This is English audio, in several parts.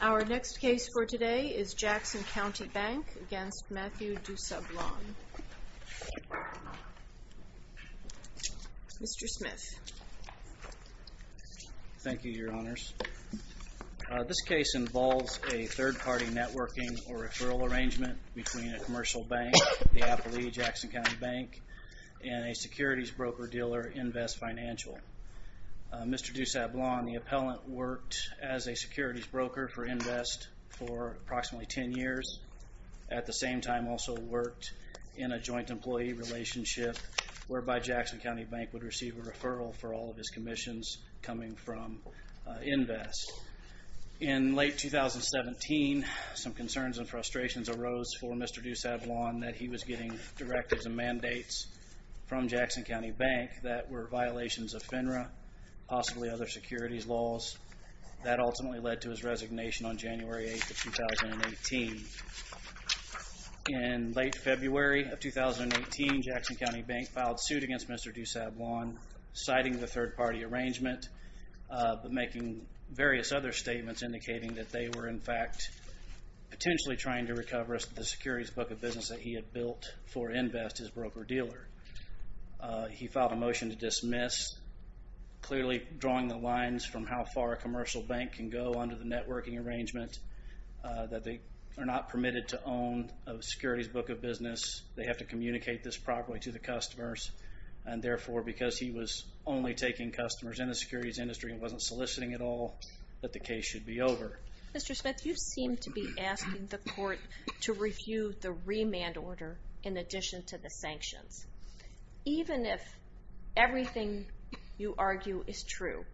Our next case for today is Jackson County Bank v. Mathew DuSablon. Mr. Smith. Thank you, Your Honors. This case involves a third-party networking or referral arrangement between a commercial bank, the Appalachian Jackson County Bank, and a security company. It's a securities broker-dealer invest financial. Mr. DuSablon, the appellant, worked as a securities broker for invest for approximately 10 years. At the same time, also worked in a joint employee relationship whereby Jackson County Bank would receive a referral for all of his commissions coming from invest. In late 2017, some concerns and frustrations arose for Mr. DuSablon that he was getting directives and mandates from Jackson County Bank that were violations of FINRA, possibly other securities laws. That ultimately led to his resignation on January 8, 2018. In late February of 2018, Jackson County Bank filed suit against Mr. DuSablon, citing the third-party arrangement, but making various other statements indicating that they were, in fact, potentially trying to recover the securities book of business that he had built for invest as broker-dealer. He filed a motion to dismiss, clearly drawing the lines from how far a commercial bank can go under the networking arrangement, that they are not permitted to own a securities book of business. They have to communicate this properly to the customers, and therefore, because he was only taking customers in the securities industry and wasn't soliciting at all, that the case should be over. Mr. Smith, you seem to be asking the court to review the remand order in addition to the sanctions. Even if everything you argue is true,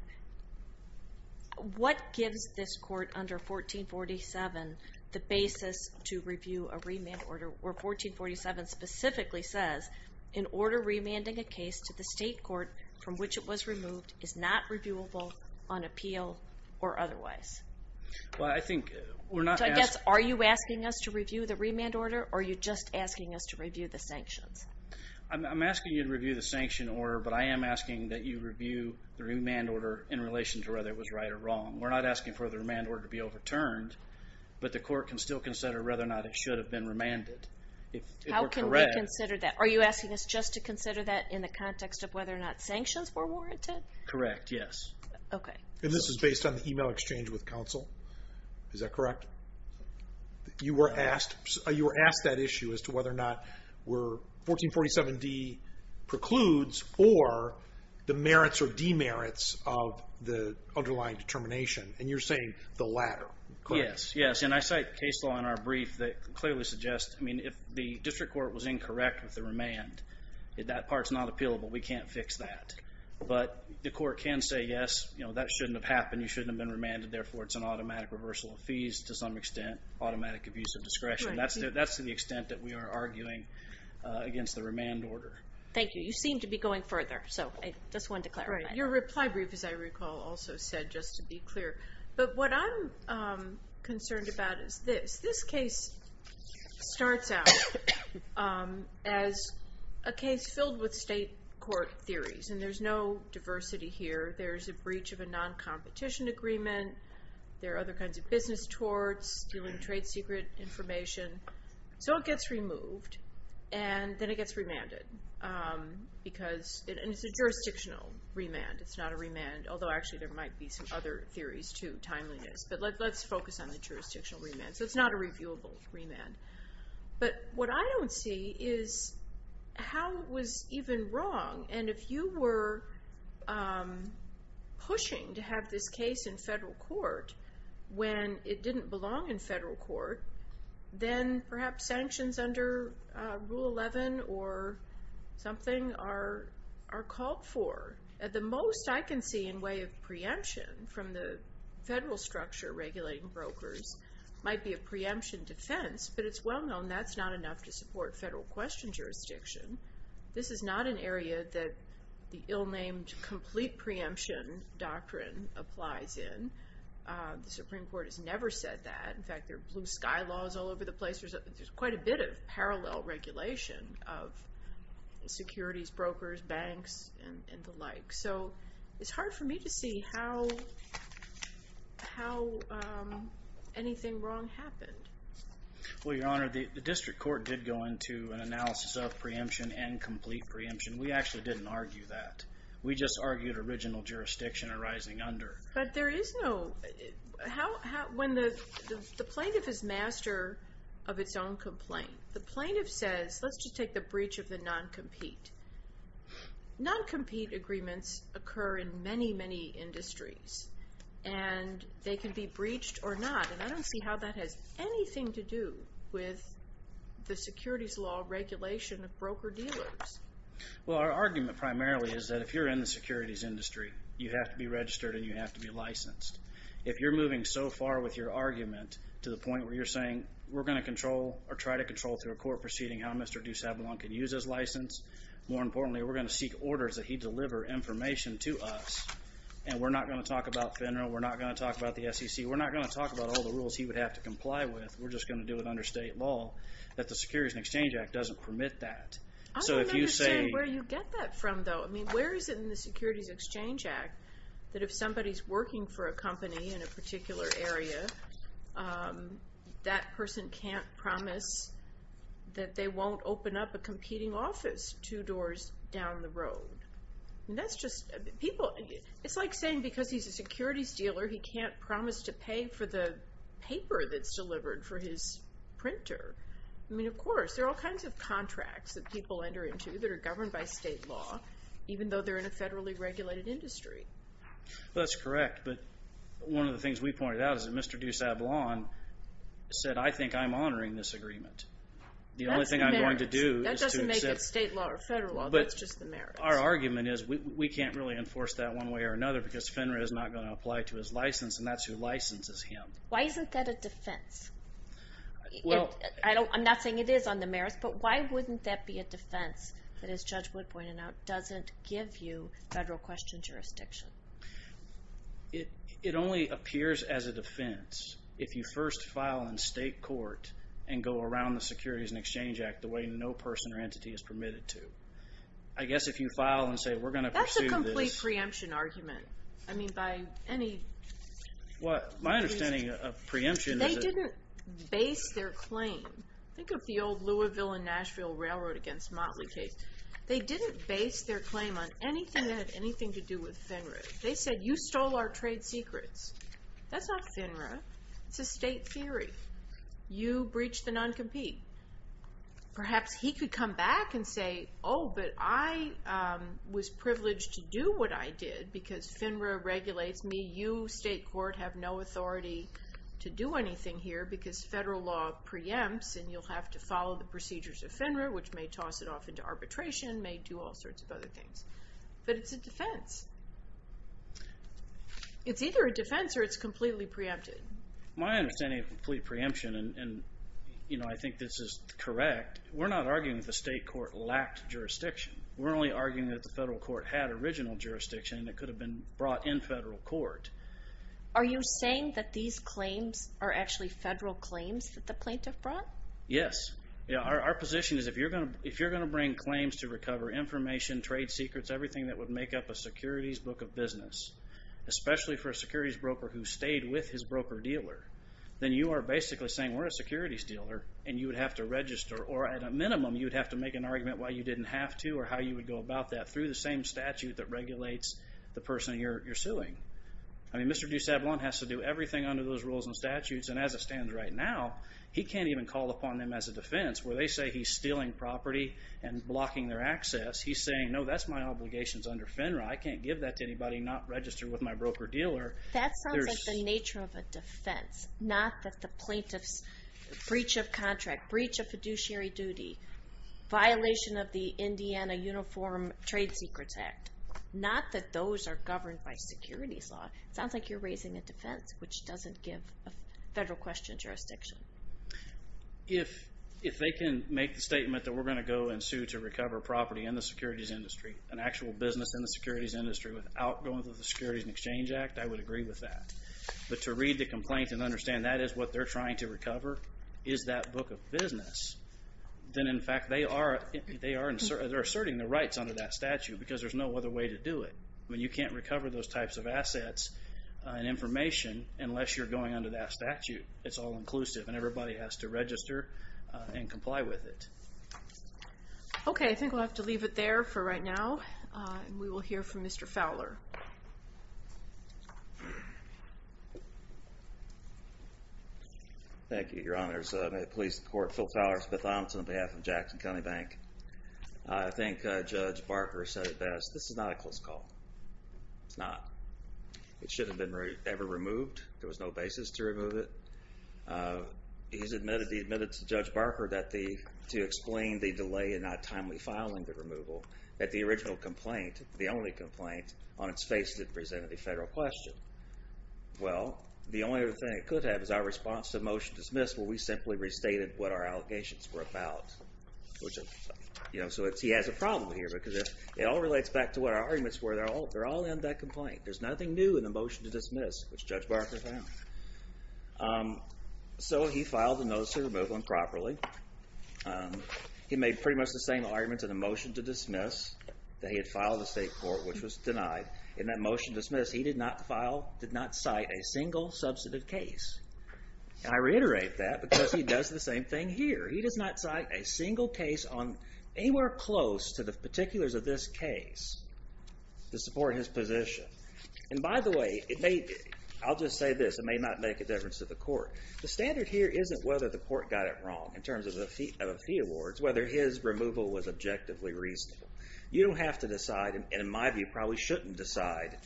what gives this court under 1447 the basis to review a remand order where 1447 specifically says, in order remanding a case to the state court from which it was removed is not reviewable on appeal or otherwise? I guess, are you asking us to review the remand order, or are you just asking us to review the sanctions? I'm asking you to review the sanction order, but I am asking that you review the remand order in relation to whether it was right or wrong. We're not asking for the remand order to be overturned, but the court can still consider whether or not it should have been remanded. How can we consider that? Are you asking us just to consider that in the context of whether or not sanctions were warranted? Correct, yes. This is based on the email exchange with counsel, is that correct? You were asked that issue as to whether or not 1447D precludes or the merits or demerits of the underlying determination, and you're saying the latter. Yes, and I cite case law in our brief that clearly suggests, I mean, if the district court was incorrect with the remand, that part's not appealable, we can't fix that. But the court can say, yes, that shouldn't have happened, you shouldn't have been remanded, therefore it's an automatic reversal of fees to some extent, automatic abuse of discretion. That's to the extent that we are arguing against the remand order. Thank you. You seem to be going further, so I just wanted to clarify. Your reply brief, as I recall, also said, just to be clear. But what I'm concerned about is this. This case starts out as a case filled with state court theories, and there's no diversity here. There's a breach of a non-competition agreement. There are other kinds of business torts, stealing trade secret information. So it gets removed, and then it gets remanded. And it's a jurisdictional remand. It's not a remand, although actually there might be some other theories, too, timeliness. But let's focus on the jurisdictional remand. So it's not a reviewable remand. But what I don't see is how it was even wrong. And if you were pushing to have this case in federal court when it didn't belong in federal court, then perhaps sanctions under Rule 11 or something are called for. At the most, I can see in way of preemption from the federal structure regulating brokers might be a preemption defense. But it's well known that's not enough to support federal question jurisdiction. This is not an area that the ill-named complete preemption doctrine applies in. The Supreme Court has never said that. In fact, there are blue sky laws all over the place. There's quite a bit of parallel regulation of securities, brokers, banks, and the like. So it's hard for me to see how anything wrong happened. Well, Your Honor, the district court did go into an analysis of preemption and complete preemption. We actually didn't argue that. We just argued original jurisdiction arising under. But when the plaintiff is master of its own complaint, the plaintiff says, let's just take the breach of the non-compete. Non-compete agreements occur in many, many industries. And they can be breached or not. And I don't see how that has anything to do with the securities law regulation of broker-dealers. Well, our argument primarily is that if you're in the securities industry, you have to be registered and you have to be licensed. If you're moving so far with your argument to the point where you're saying, we're going to control or try to control through a court proceeding how Mr. DuSablein can use his license, more importantly, we're going to seek orders that he deliver information to us. And we're not going to talk about FINRA. We're not going to talk about the SEC. We're not going to talk about all the rules he would have to comply with. We're just going to do it under state law that the Securities and Exchange Act doesn't permit that. I don't understand where you get that from, though. I mean, where is it in the Securities and Exchange Act that if somebody's working for a company in a particular area, that person can't promise that they won't open up a competing office two doors down the road? It's like saying because he's a securities dealer, he can't promise to pay for the paper that's delivered for his printer. I mean, of course, there are all kinds of contracts that people enter into that are governed by state law, even though they're in a federally regulated industry. Well, that's correct, but one of the things we pointed out is that Mr. DuSablein said, I think I'm honoring this agreement. The only thing I'm going to do is to accept... That doesn't make it state law or federal law. That's just the merits. But our argument is we can't really enforce that one way or another because FINRA is not going to apply to his license, and that's who licenses him. Why isn't that a defense? I'm not saying it is on the merits, but why wouldn't that be a defense that, as Judge Wood pointed out, doesn't give you federal question jurisdiction? It only appears as a defense if you first file in state court and go around the Securities and Exchange Act the way no person or entity is permitted to. I guess if you file and say we're going to pursue this... That's a complete preemption argument. I mean, by any... My understanding of preemption is that... They didn't base their claim. Think of the old Louisville and Nashville railroad against Motley case. They didn't base their claim on anything that had anything to do with FINRA. They said, you stole our trade secrets. That's not FINRA. It's a state theory. You breached the non-compete. Perhaps he could come back and say, oh, but I was privileged to do what I did because FINRA regulates me. You, state court, have no authority to do anything here because federal law preempts and you'll have to follow the procedures of FINRA, which may toss it off into arbitration, may do all sorts of other things. But it's a defense. It's either a defense or it's completely preempted. My understanding of complete preemption, and I think this is correct, we're not arguing that the state court lacked jurisdiction. We're only arguing that the federal court had original jurisdiction and it could have been brought in federal court. Are you saying that these claims are actually federal claims that the plaintiff brought? Yes. Our position is if you're going to bring claims to recover information, trade secrets, everything that would make up a securities book of business, especially for a securities broker who stayed with his broker dealer, then you are basically saying we're a securities dealer and you would have to register or at a minimum you would have to make an argument why you didn't have to or how you would go about that through the same statute that regulates the person you're suing. I mean Mr. DuSablein has to do everything under those rules and statutes and as it stands right now, he can't even call upon them as a defense where they say he's stealing property and blocking their access. He's saying no, that's my obligations under FINRA. I can't give that to anybody not registered with my broker dealer. That sounds like the nature of a defense. Not that the plaintiff's breach of contract, breach of fiduciary duty, violation of the Indiana Uniform Trade Secrets Act. Not that those are governed by securities law. It sounds like you're raising a defense which doesn't give federal question jurisdiction. If they can make the statement that we're going to go and sue to recover property in the securities industry, an actual business in the securities industry without going through the Securities and Exchange Act, I would agree with that. But to read the complaint and understand that is what they're trying to recover is that book of business, then in fact they are asserting their rights under that statute because there's no other way to do it. You can't recover those types of assets and information unless you're going under that statute. It's all inclusive and everybody has to register and comply with it. Okay, I think we'll have to leave it there for right now. We will hear from Mr. Fowler. Thank you, Your Honors. I'm at Police Court Phil Fowler, Smith-Thompson on behalf of Jackson County Bank. I think Judge Barker said it best. This is not a close call. It's not. It should have been ever removed. There was no basis to remove it. He admitted to Judge Barker that to explain the delay in not timely filing the removal, that the original complaint, the only complaint, on its face didn't present a federal question. Well, the only other thing it could have is our response to the motion to dismiss where we simply restated what our allegations were about. So he has a problem here because it all relates back to what our arguments were. They're all in that complaint. There's nothing new in the motion to dismiss, which Judge Barker found. So he filed the notice of removal improperly. He made pretty much the same arguments in the motion to dismiss that he had filed in the state court, which was denied. In that motion to dismiss, he did not cite a single substantive case. And I reiterate that because he does the same thing here. He does not cite a single case anywhere close to the particulars of this case to support his position. And by the way, I'll just say this. It may not make a difference to the court. The standard here isn't whether the court got it wrong in terms of the fee awards, whether his removal was objectively reasonable. You don't have to decide, and in my view probably shouldn't decide,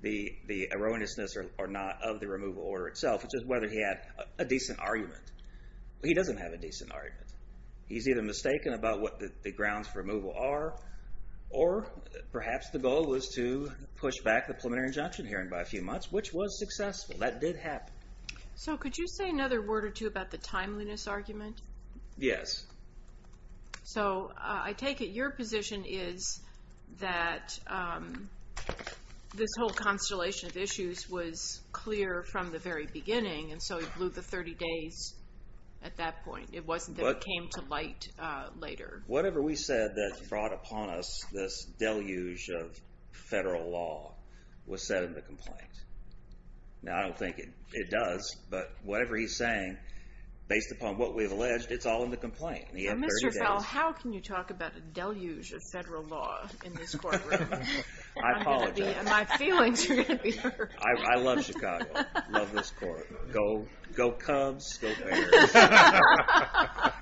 the erroneousness or not of the removal order itself. It's just whether he had a decent argument. He doesn't have a decent argument. He's either mistaken about what the grounds for removal are, or perhaps the goal was to push back the preliminary injunction hearing by a few months, which was successful. That did happen. So could you say another word or two about the timeliness argument? Yes. So I take it your position is that this whole constellation of issues was clear from the very beginning, and so he blew the 30 days at that point. It wasn't that it came to light later. Whatever we said that brought upon us this deluge of federal law was said in the complaint. Now I don't think it does, but whatever he's saying, based upon what we've alleged, it's all in the complaint. Mr. Fell, how can you talk about a deluge of federal law in this courtroom? I apologize. My feelings are going to be hurt. I love Chicago. I love this court. Go Cubs, go Bears.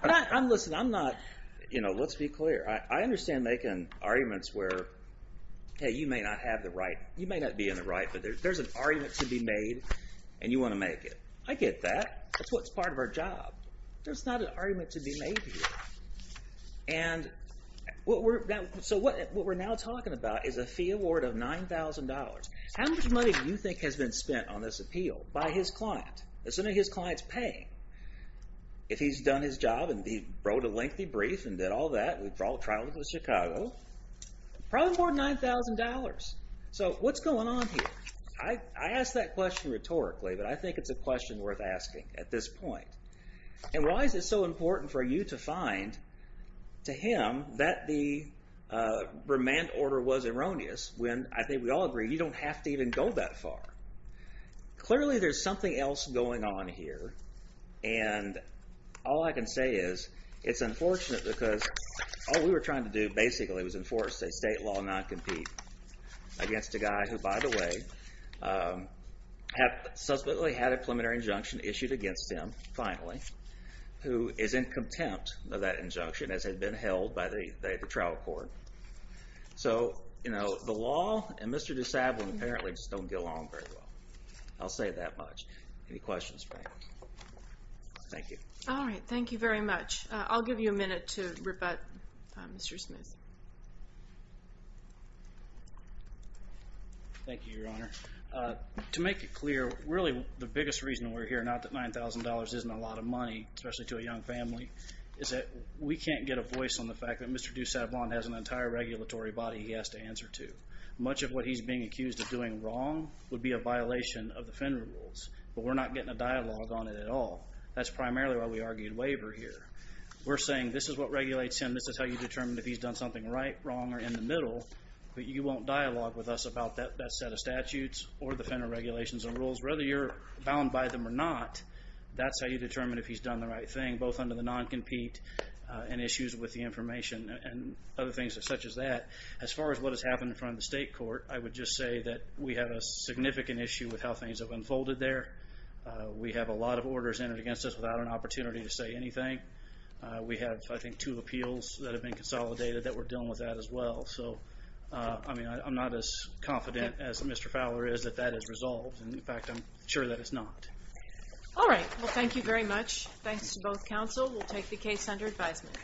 Listen, I'm not – let's be clear. I understand making arguments where, hey, you may not have the right – you may not be in the right, but there's an argument to be made, and you want to make it. I get that. That's what's part of our job. There's not an argument to be made here. And so what we're now talking about is a fee award of $9,000. How much money do you think has been spent on this appeal by his client? Assuming his client's paying. If he's done his job and he wrote a lengthy brief and did all that, we've traveled to Chicago, probably more than $9,000. So what's going on here? I asked that question rhetorically, but I think it's a question worth asking at this point. And why is it so important for you to find, to him, that the remand order was erroneous when I think we all agree you don't have to even go that far? Clearly there's something else going on here, and all I can say is it's unfortunate because all we were trying to do basically was enforce a state law non-compete against a guy who, by the way, suspectly had a preliminary injunction issued against him, finally, who is in contempt of that injunction as had been held by the trial court. So the law and Mr. DeSable apparently just don't get along very well. I'll say that much. Any questions? Thank you. All right, thank you very much. I'll give you a minute to rebut, Mr. Smith. Thank you, Your Honor. To make it clear, really the biggest reason we're here, not that $9,000 isn't a lot of money, especially to a young family, is that we can't get a voice on the fact that Mr. DeSable has an entire regulatory body he has to answer to. Much of what he's being accused of doing wrong would be a violation of the Fenn rules, but we're not getting a dialogue on it at all. That's primarily why we argued waiver here. We're saying this is what regulates him. This is how you determine if he's done something right, wrong, or in the middle, but you won't dialogue with us about that set of statutes or the Fenn regulations and rules. Whether you're bound by them or not, that's how you determine if he's done the right thing, both under the non-compete and issues with the information and other things such as that. As far as what has happened in front of the state court, I would just say that we have a significant issue with how things have unfolded there. We have a lot of orders entered against us without an opportunity to say anything. We have, I think, two appeals that have been consolidated that we're dealing with that as well. I'm not as confident as Mr. Fowler is that that is resolved, and, in fact, I'm sure that it's not. All right, well, thank you very much. Thanks to both counsel. We'll take the case under advisement.